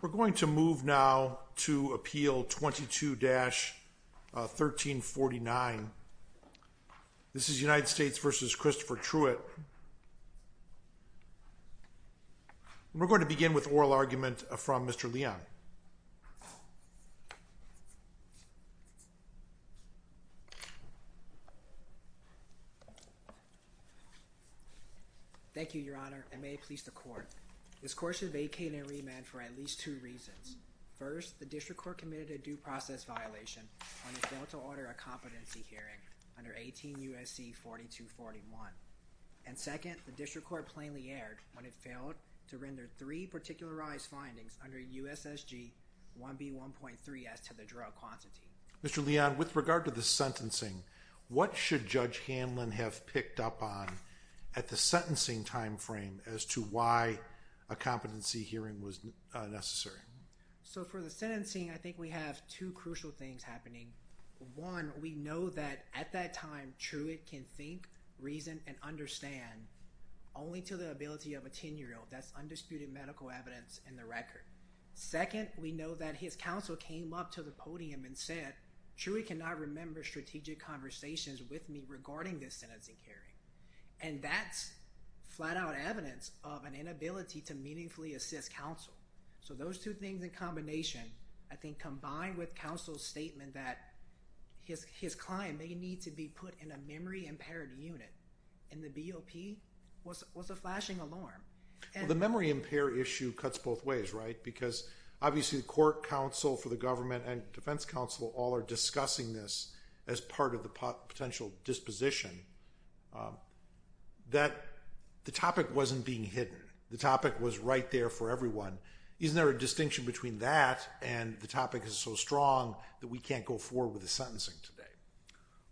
We're going to move now to Appeal 22-1349. This is United States v. Christopher Truett. We're going to begin with oral argument from Mr. Leon. Thank you, Your Honor, and may it please the Court. This Court should vacate and remand for at least two reasons. First, the District Court committed a due process violation when it failed to order a competency hearing under 18 U.S.C. 4241. And second, the District Court plainly erred when it failed to render three particularized findings under U.S.S.G. 1B1.3S to the drug quantity. Mr. Leon, with regard to the sentencing, what should Judge Hanlon have picked up on at the sentencing timeframe as to why a competency hearing was necessary? For the sentencing, I think we have two crucial things happening. One, we know that at that time, Truett can think, reason, and understand only to the ability of a 10-year-old. That's undisputed medical evidence in the record. Second, we know that his counsel came up to the podium and said, Truett cannot remember strategic conversations with me regarding this sentencing hearing. And that's flat-out evidence of an inability to meaningfully assist counsel. So those two things in combination, I think, combined with counsel's statement that his client may need to be put in a memory-impaired unit, and the BOP was a flashing alarm. The memory-impaired issue cuts both ways, right? Because obviously the Court, counsel for the government, and defense counsel all are discussing this as part of the potential disposition that the topic wasn't being hidden. The topic was right there for everyone. Isn't there a distinction between that and the topic is so strong that we can't go forward with the sentencing today?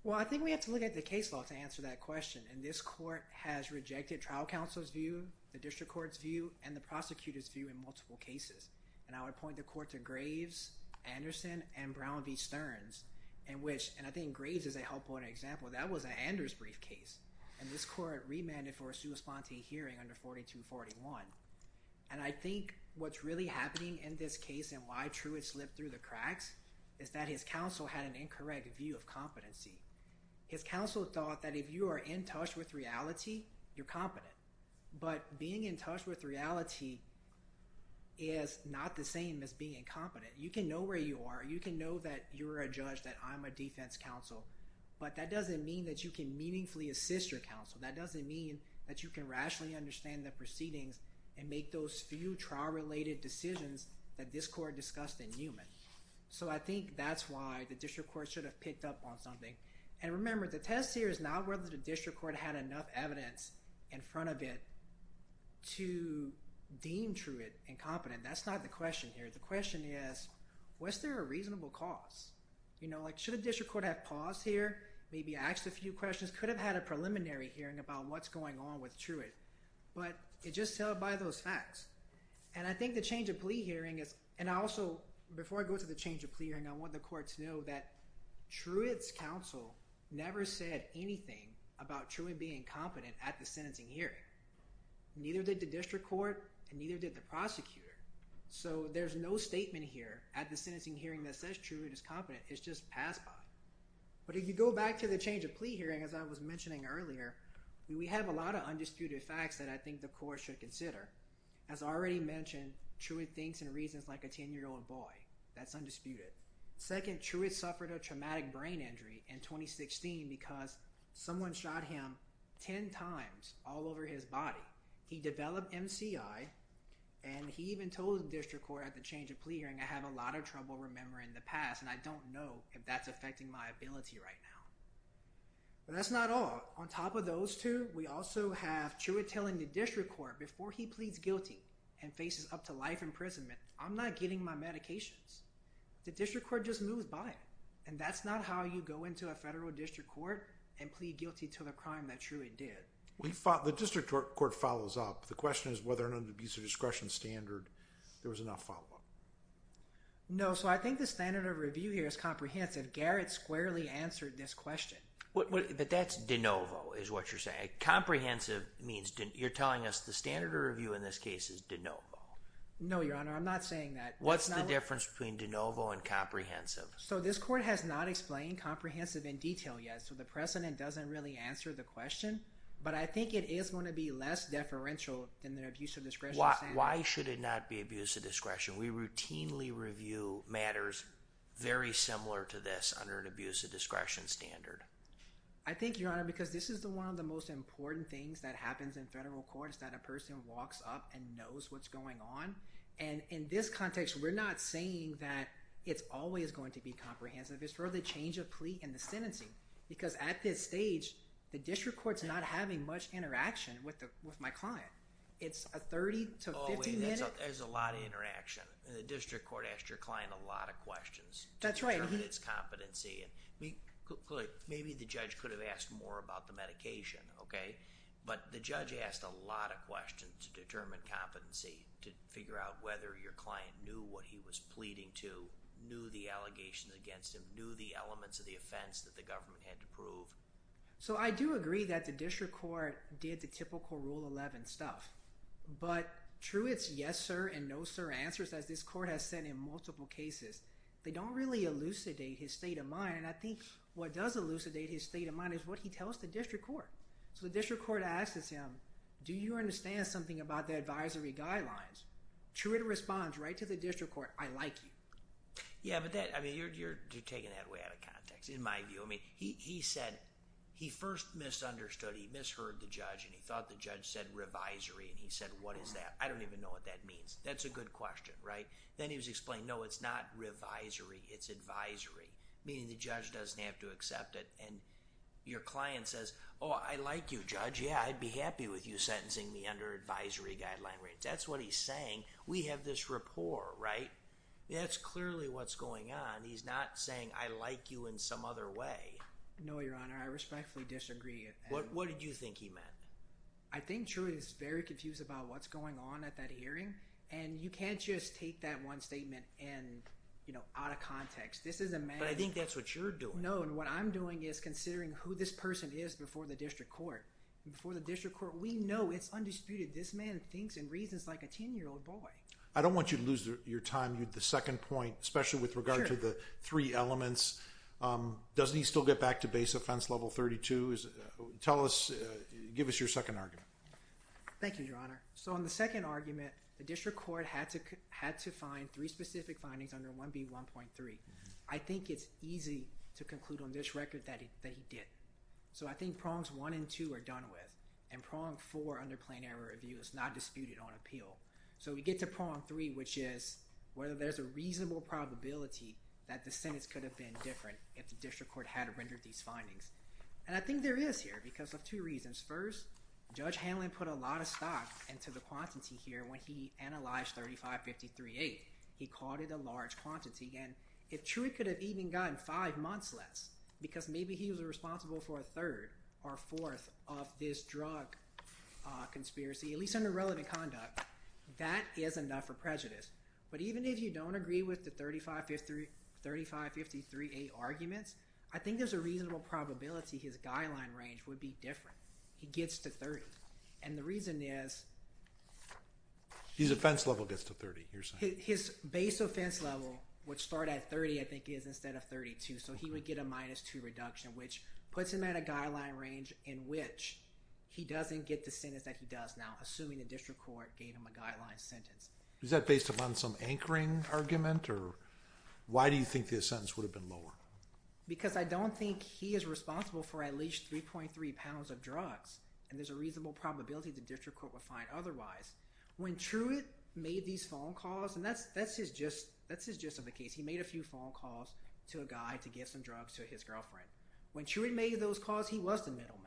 Well, I think we have to look at the case law to answer that question, and this Court has rejected trial counsel's view, the district court's view, and the prosecutor's view in multiple cases. And I would point the Court to Graves, Anderson, and Brown v. Stearns. And I think Graves is a helpful example. That was an Anders briefcase. And this Court remanded for a sua sponte hearing under 4241. And I think what's really happening in this case and why Truett slipped through the cracks is that his counsel had an incorrect view of competency. His counsel thought that if you are in touch with reality, you're competent. But being in touch with reality is not the same as being incompetent. You can know where you are. You can know that you're a judge, that I'm a defense counsel, but that doesn't mean that you can meaningfully assist your counsel. That doesn't mean that you can rationally understand the proceedings and make those few trial-related decisions that this Court discussed in Newman. So I think that's why the district court should have picked up on something. And remember, the test here is not whether the district court had enough evidence in front of it to deem Truett incompetent. That's not the question here. The question is, was there a reasonable cause? You know, like should a district court have paused here, maybe asked a few questions, could have had a preliminary hearing about what's going on with Truett. But it just held by those facts. And I think the change of plea hearing is, and I also, before I go to the change of plea hearing, I want the courts to know that Truett's counsel never said anything about Truett being incompetent at the sentencing hearing. Neither did the district court, and neither did the prosecutor. So there's no statement here at the sentencing hearing that says Truett is competent. It's just passed by. But if you go back to the change of plea hearing, as I was mentioning earlier, we have a lot of undisputed facts that I think the courts should consider. As already mentioned, Truett thinks and reasons like a 10-year-old boy. That's undisputed. Second, Truett suffered a traumatic brain injury in 2016 because someone shot him 10 times all over his body. He developed MCI, and he even told the district court at the change of plea hearing, I have a lot of trouble remembering the past, and I don't know if that's affecting my ability right now. But that's not all. On top of those two, we also have Truett telling the district court, before he pleads guilty and faces up to life imprisonment, I'm not getting my medications. The district court just moves by, and that's not how you go into a federal district court and plead guilty to the crime that Truett did. The district court follows up. The question is whether under an abuse of discretion standard, there was enough follow-up. No, so I think the standard of review here is comprehensive. Garrett squarely answered this question. But that's de novo, is what you're saying. Comprehensive means you're telling us the standard of review in this case is de novo. No, Your Honor, I'm not saying that. What's the difference between de novo and comprehensive? So this court has not explained comprehensive in detail yet, so the president doesn't really answer the question. But I think it is going to be less deferential than the abuse of discretion standard. Why should it not be abuse of discretion? We routinely review matters very similar to this under an abuse of discretion standard. I think, Your Honor, because this is one of the most important things that happens in federal courts, that a person walks up and knows what's going on. And in this context, we're not saying that it's always going to be comprehensive. It's for the change of plea and the sentencing. Because at this stage, the district court's not having much interaction with my client. It's a 30 to 50 minute... Oh, there's a lot of interaction. The district court asked your client a lot of questions. That's right. To determine its competency. Maybe the judge could have asked more about the medication, okay? But the judge asked a lot of questions to determine competency, to figure out whether your client knew what he was pleading to, knew the allegations against him, knew the elements of the offense that the government had to prove. So I do agree that the district court did the typical Rule 11 stuff. But true it's yes sir and no sir answers, as this court has said in multiple cases, they don't really elucidate his state of mind. And I think what does elucidate his state of mind is what he tells the district court. So the district court asks him, do you understand something about the advisory guidelines? True it responds right to the district court, I like you. Yeah, but you're taking that way out of context, in my view. I mean, he said he first misunderstood. He misheard the judge and he thought the judge said revisory. And he said, what is that? I don't even know what that means. That's a good question, right? Then he was explaining, no, it's not revisory, it's advisory. Meaning the judge doesn't have to accept it. And your client says, oh, I like you judge. Yeah, I'd be happy with you sentencing me under advisory guidelines. That's what he's saying. We have this rapport, right? That's clearly what's going on. He's not saying I like you in some other way. No, your honor. I respectfully disagree. What did you think he meant? I think true he's very confused about what's going on at that hearing. And you can't just take that one statement and, you know, out of context. This is a matter. But I think that's what you're doing. No, and what I'm doing is considering who this person is before the district court. Before the district court, we know it's undisputed. This man thinks and reasons like a 10-year-old boy. I don't want you to lose your time. The second point, especially with regard to the three elements. Doesn't he still get back to base offense level 32? Tell us, give us your second argument. Thank you, your honor. So on the second argument, the district court had to find three specific findings under 1B1.3. I think it's easy to conclude on this record that he did. So I think prongs 1 and 2 are done with. And prong 4 under plenary review is not disputed on appeal. So we get to prong 3, which is whether there's a reasonable probability that the sentence could have been different if the district court had rendered these findings. And I think there is here because of two reasons. First, Judge Hanlon put a lot of stock into the quantity here when he analyzed 3553-8. He called it a large quantity. And if true, he could have even gotten five months less because maybe he was responsible for a third or fourth of this drug conspiracy, at least under relevant conduct. That is enough for prejudice. But even if you don't agree with the 3553-8 arguments, I think there's a reasonable probability his guideline range would be different. He gets to 30. And the reason is… His offense level gets to 30, you're saying? His base offense level would start at 30, I think, instead of 32. So he would get a minus 2 reduction, which puts him at a guideline range in which he doesn't get the sentence that he does now, assuming the district court gave him a guideline sentence. Is that based upon some anchoring argument? Or why do you think the sentence would have been lower? Because I don't think he is responsible for at least 3.3 pounds of drugs. And there's a reasonable probability the district court would find otherwise. When Truitt made these phone calls – and that's his gist of the case. He made a few phone calls to a guy to get some drugs to his girlfriend. When Truitt made those calls, he was the middleman.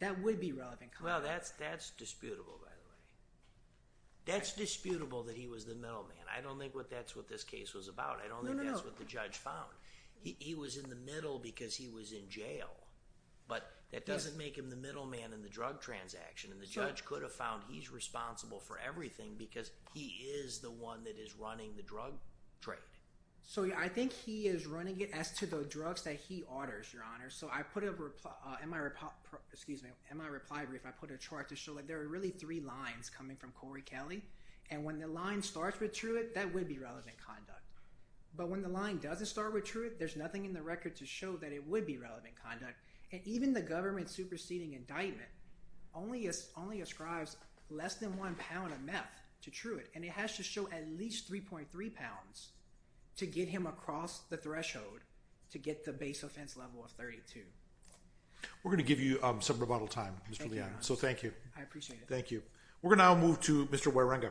That would be relevant conduct. Well, that's disputable, by the way. That's disputable that he was the middleman. I don't think that's what this case was about. I don't think that's what the judge found. He was in the middle because he was in jail. But that doesn't make him the middleman in the drug transaction. And the judge could have found he's responsible for everything because he is the one that is running the drug trade. So, yeah, I think he is running it as to the drugs that he orders, Your Honor. So I put a – in my reply brief, I put a chart to show that there are really three lines coming from Corey Kelly. And when the line starts with Truitt, that would be relevant conduct. But when the line doesn't start with Truitt, there's nothing in the record to show that it would be relevant conduct. And even the government superseding indictment only ascribes less than one pound of meth to Truitt. And it has to show at least 3.3 pounds to get him across the threshold to get the base offense level of 32. We're going to give you some rebuttal time, Mr. Leon. Thank you, Your Honor. So thank you. I appreciate it. Thank you. We're going to now move to Mr. Waringa.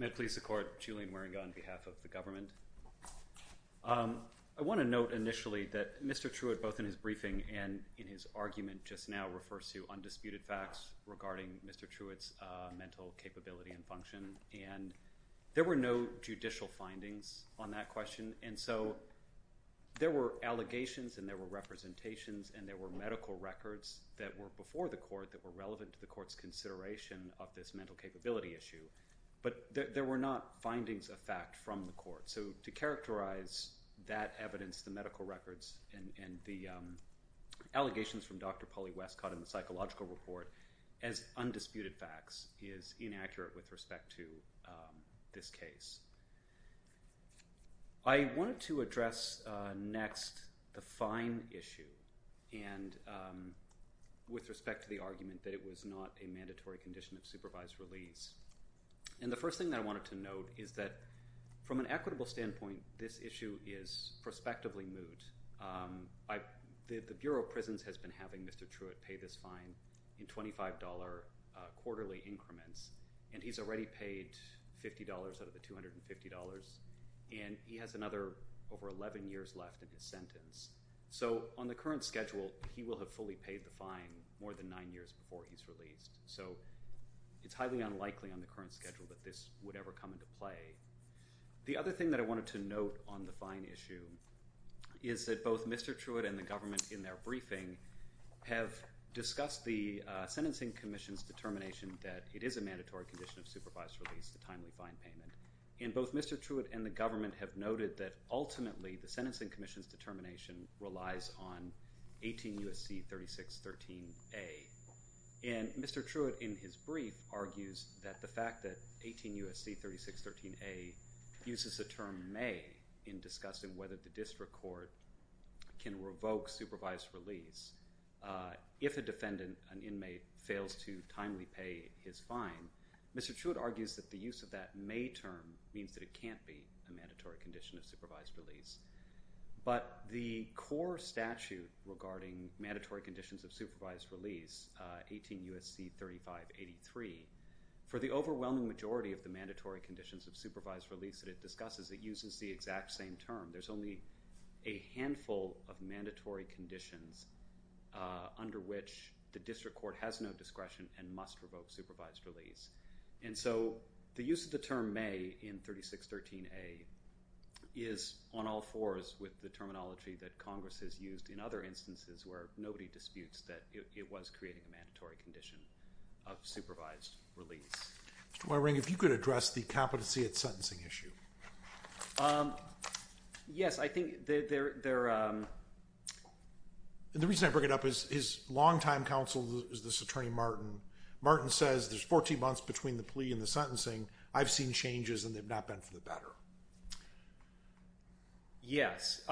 May it please the Court, Julian Waringa on behalf of the government. I want to note initially that Mr. Truitt, both in his briefing and in his argument just now, refers to undisputed facts regarding Mr. Truitt's mental capability and function. And there were no judicial findings on that question. And so there were allegations and there were representations and there were medical records that were before the court that were relevant to the court's consideration of this mental capability issue. But there were not findings of fact from the court. So to characterize that evidence, the medical records, and the allegations from Dr. Polly Westcott and the psychological report as undisputed facts is inaccurate with respect to this case. I wanted to address next the fine issue with respect to the argument that it was not a mandatory condition of supervised release. And the first thing that I wanted to note is that from an equitable standpoint, this issue is prospectively moot. The Bureau of Prisons has been having Mr. Truitt pay this fine in $25 quarterly increments, and he's already paid $50 out of the $250, and he has another over 11 years left in his sentence. So on the current schedule, he will have fully paid the fine more than nine years before he's released. So it's highly unlikely on the current schedule that this would ever come into play. The other thing that I wanted to note on the fine issue is that both Mr. Truitt and the government in their briefing have discussed the Sentencing Commission's determination that it is a mandatory condition of supervised release, the timely fine payment, and both Mr. Truitt and the government have noted that ultimately, the Sentencing Commission's determination relies on 18 U.S.C. 3613A. And Mr. Truitt, in his brief, argues that the fact that 18 U.S.C. 3613A uses the term may in discussing whether the district court can revoke supervised release if a defendant, an inmate, fails to timely pay his fine. Mr. Truitt argues that the use of that may term means that it can't be a mandatory condition of supervised release. But the core statute regarding mandatory conditions of supervised release, 18 U.S.C. 3583, for the overwhelming majority of the mandatory conditions of supervised release that it discusses, it uses the exact same term. There's only a handful of mandatory conditions under which the district court has no discretion and must revoke supervised release. And so the use of the term may in 3613A is on all fours with the terminology that Congress has used in other instances where nobody disputes that it was creating a mandatory condition of supervised release. Mr. Waring, if you could address the competency at sentencing issue. Yes, I think they're – the reason I bring it up is his longtime counsel is this attorney, Martin. Martin says there's 14 months between the plea and the sentencing. I've seen changes, and they've not been for the better. Yes.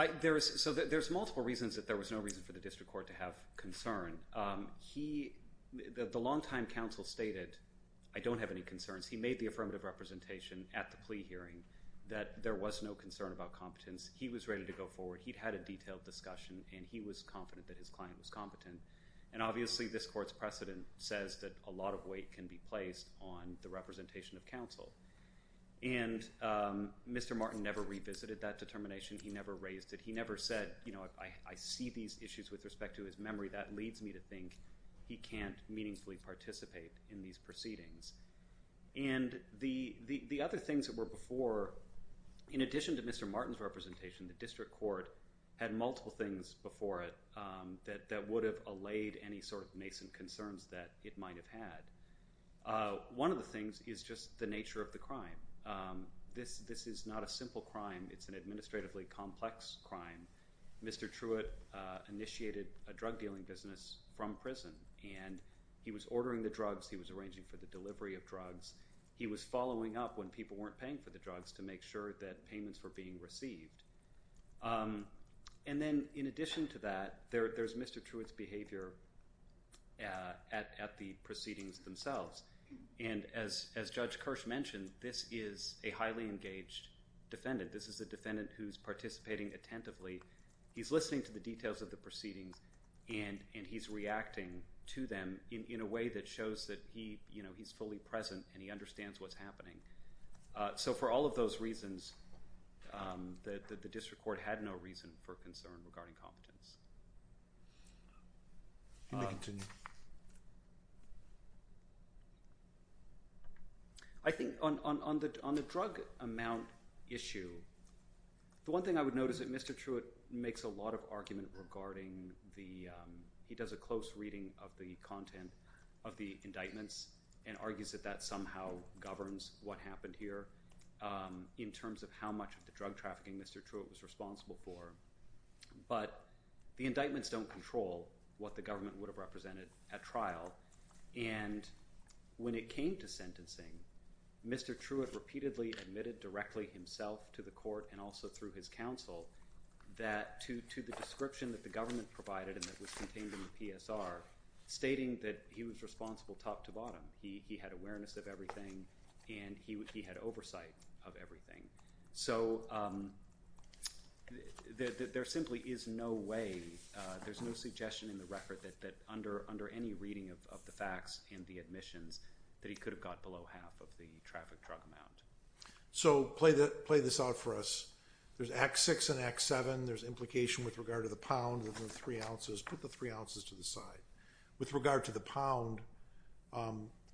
So there's multiple reasons that there was no reason for the district court to have concern. He – the longtime counsel stated, I don't have any concerns. He made the affirmative representation at the plea hearing that there was no concern about competence. He was ready to go forward. He'd had a detailed discussion, and he was confident that his client was competent. And obviously, this court's precedent says that a lot of weight can be placed on the representation of counsel. And Mr. Martin never revisited that determination. He never raised it. He never said, you know, I see these issues with respect to his memory. That leads me to think he can't meaningfully participate in these proceedings. And the other things that were before, in addition to Mr. Martin's representation, the district court had multiple things before it that would have allayed any sort of nascent concerns that it might have had. One of the things is just the nature of the crime. This is not a simple crime. It's an administratively complex crime. Mr. Truitt initiated a drug-dealing business from prison, and he was ordering the drugs. He was arranging for the delivery of drugs. He was following up when people weren't paying for the drugs to make sure that payments were being received. And then in addition to that, there's Mr. Truitt's behavior at the proceedings themselves. And as Judge Kirsch mentioned, this is a highly engaged defendant. This is a defendant who's participating attentively. He's listening to the details of the proceedings, and he's reacting to them in a way that shows that he's fully present and he understands what's happening. So for all of those reasons, the district court had no reason for concern regarding competence. I think on the drug amount issue, the one thing I would note is that Mr. Truitt makes a lot of argument regarding the he does a close reading of the content of the indictments and argues that that somehow governs what happened here in terms of how much of the drug trafficking Mr. Truitt was responsible for. But the indictments don't control what the government would have represented at trial. And when it came to sentencing, Mr. Truitt repeatedly admitted directly himself to the court and also through his counsel that to the description that the government provided and that was contained in the PSR, stating that he was responsible top to bottom. He had awareness of everything, and he had oversight of everything. So there simply is no way, there's no suggestion in the record that under any reading of the facts and the admissions that he could have got below half of the traffic drug amount. So play this out for us. There's Act 6 and Act 7. There's implication with regard to the pound within three ounces. Put the three ounces to the side. With regard to the pound,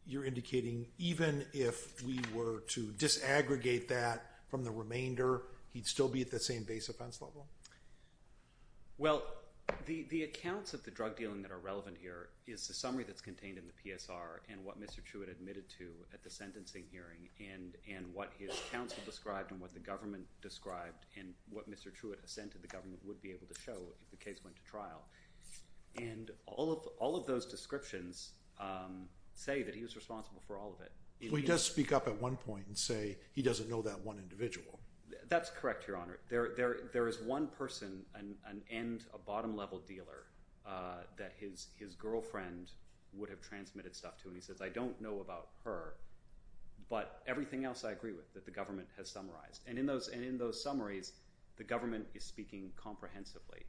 you're indicating even if we were to disaggregate that from the remainder, he'd still be at the same base offense level? Well, the accounts of the drug dealing that are relevant here is the summary that's contained in the PSR and what Mr. Truitt admitted to at the sentencing hearing and what his counsel described and what the government described and what Mr. Truitt assented the government would be able to show if the case went to trial. And all of those descriptions say that he was responsible for all of it. Well, he does speak up at one point and say he doesn't know that one individual. That's correct, Your Honor. There is one person and a bottom level dealer that his girlfriend would have transmitted stuff to, and he says, I don't know about her, but everything else I agree with that the government has summarized. And in those summaries, the government is speaking comprehensively.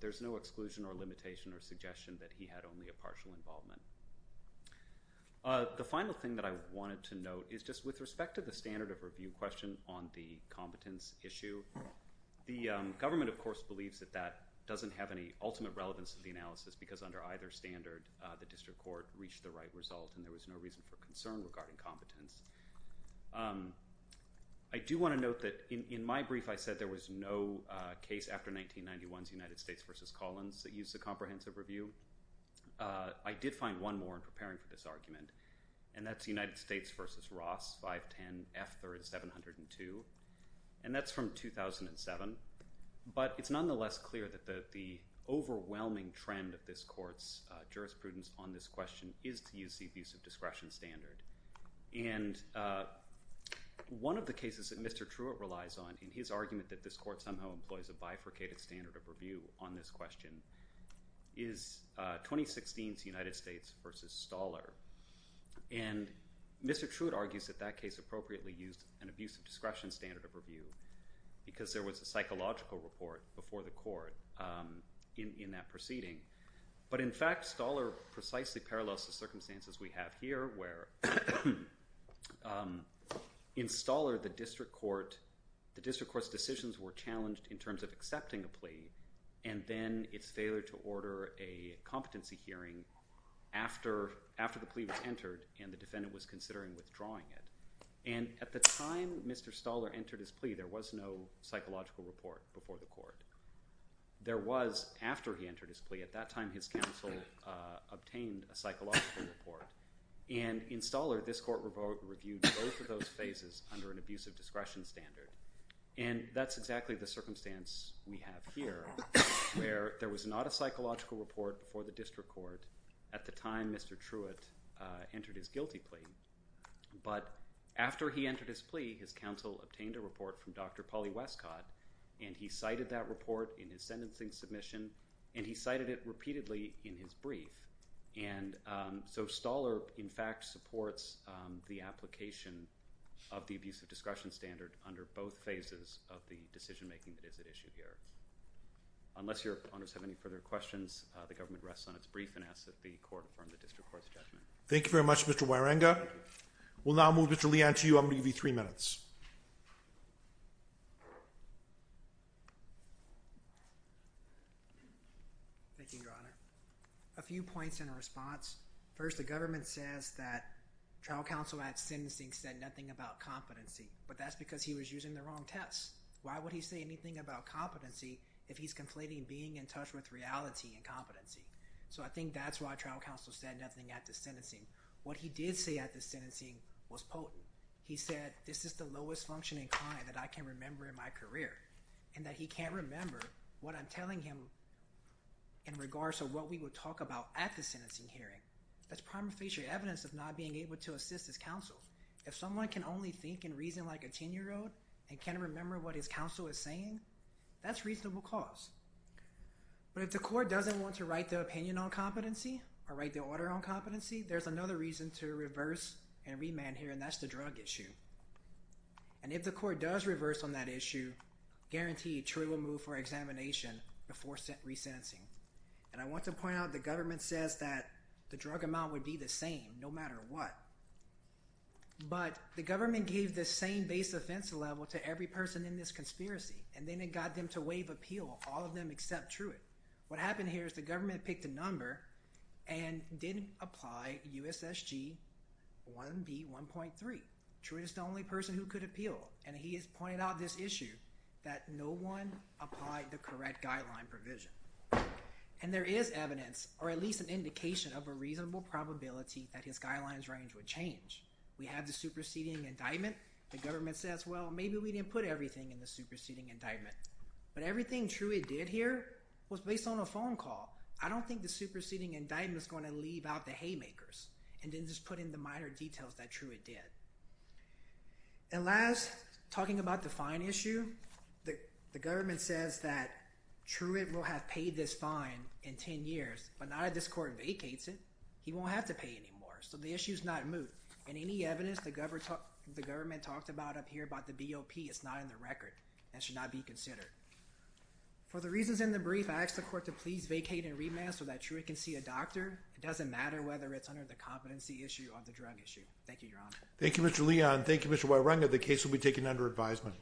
There's no exclusion or limitation or suggestion that he had only a partial involvement. The final thing that I wanted to note is just with respect to the standard of review question on the competence issue, the government, of course, believes that that doesn't have any ultimate relevance to the analysis because under either standard, the district court reached the right result and there was no reason for concern regarding competence. I do want to note that in my brief, I said there was no case after 1991's United States v. Collins that used a comprehensive review. I did find one more in preparing for this argument, and that's United States v. Ross, 510 F. 3rd, 702, and that's from 2007. But it's nonetheless clear that the overwhelming trend of this court's jurisprudence on this question is to use the abuse of discretion standard. And one of the cases that Mr. Truitt relies on in his argument that this court somehow employs a bifurcated standard of review on this question is 2016's United States v. Stahler. And Mr. Truitt argues that that case appropriately used an abuse of discretion standard of review because there was a psychological report before the court in that proceeding. But in fact, Stahler precisely parallels the circumstances we have here where in Stahler, the district court's decisions were challenged in terms of accepting a plea and then its failure to order a competency hearing after the plea was entered and the defendant was considering withdrawing it. And at the time Mr. Stahler entered his plea, there was no psychological report before the court. There was after he entered his plea. At that time, his counsel obtained a psychological report. And in Stahler, this court reviewed both of those phases under an abuse of discretion standard. And that's exactly the circumstance we have here where there was not a psychological report before the district court at the time Mr. Truitt entered his guilty plea. But after he entered his plea, his counsel obtained a report from Dr. Polly Westcott and he cited that report in his sentencing submission and he cited it repeatedly in his brief. And so Stahler, in fact, supports the application of the abuse of discretion standard under both phases of the decision-making that is at issue here. Unless your honors have any further questions, the government rests on its brief and asks that the court affirm the district court's judgment. Thank you very much, Mr. Waringa. We'll now move Mr. Leon to you. I'm going to give you three minutes. Thank you, your honor. A few points in response. First, the government says that trial counsel at sentencing said nothing about competency. But that's because he was using the wrong test. Why would he say anything about competency if he's conflating being in touch with reality and competency? So I think that's why trial counsel said nothing at the sentencing. What he did say at the sentencing was potent. He said, this is the lowest functioning client that I can remember in my career and that he can't remember what I'm telling him in regards to what we would talk about at the sentencing hearing. That's prima facie evidence of not being able to assist his counsel. If someone can only think and reason like a 10-year-old and can't remember what his counsel is saying, that's reasonable cause. But if the court doesn't want to write their opinion on competency or write their order on competency, there's another reason to reverse and remand here, and that's the drug issue. And if the court does reverse on that issue, guaranteed, Truitt will move for examination before resentencing. And I want to point out the government says that the drug amount would be the same no matter what. But the government gave the same base offensive level to every person in this conspiracy, and then it got them to waive appeal, all of them except Truitt. What happened here is the government picked a number and didn't apply USSG 1B1.3. Truitt is the only person who could appeal, and he has pointed out this issue that no one applied the correct guideline provision. And there is evidence or at least an indication of a reasonable probability that his guidelines range would change. We have the superseding indictment. The government says, well, maybe we didn't put everything in the superseding indictment. But everything Truitt did here was based on a phone call. I don't think the superseding indictment is going to leave out the haymakers and didn't just put in the minor details that Truitt did. And last, talking about the fine issue, the government says that Truitt will have paid this fine in 10 years, but now that this court vacates it, he won't have to pay anymore. So the issue is not moved. And any evidence the government talked about up here about the BOP is not in the record and should not be considered. For the reasons in the brief, I ask the court to please vacate and remand so that Truitt can see a doctor. It doesn't matter whether it's under the competency issue or the drug issue. Thank you, Your Honor. Thank you, Mr. Leon. Thank you, Mr. Wierenga. The case will be taken under advisement.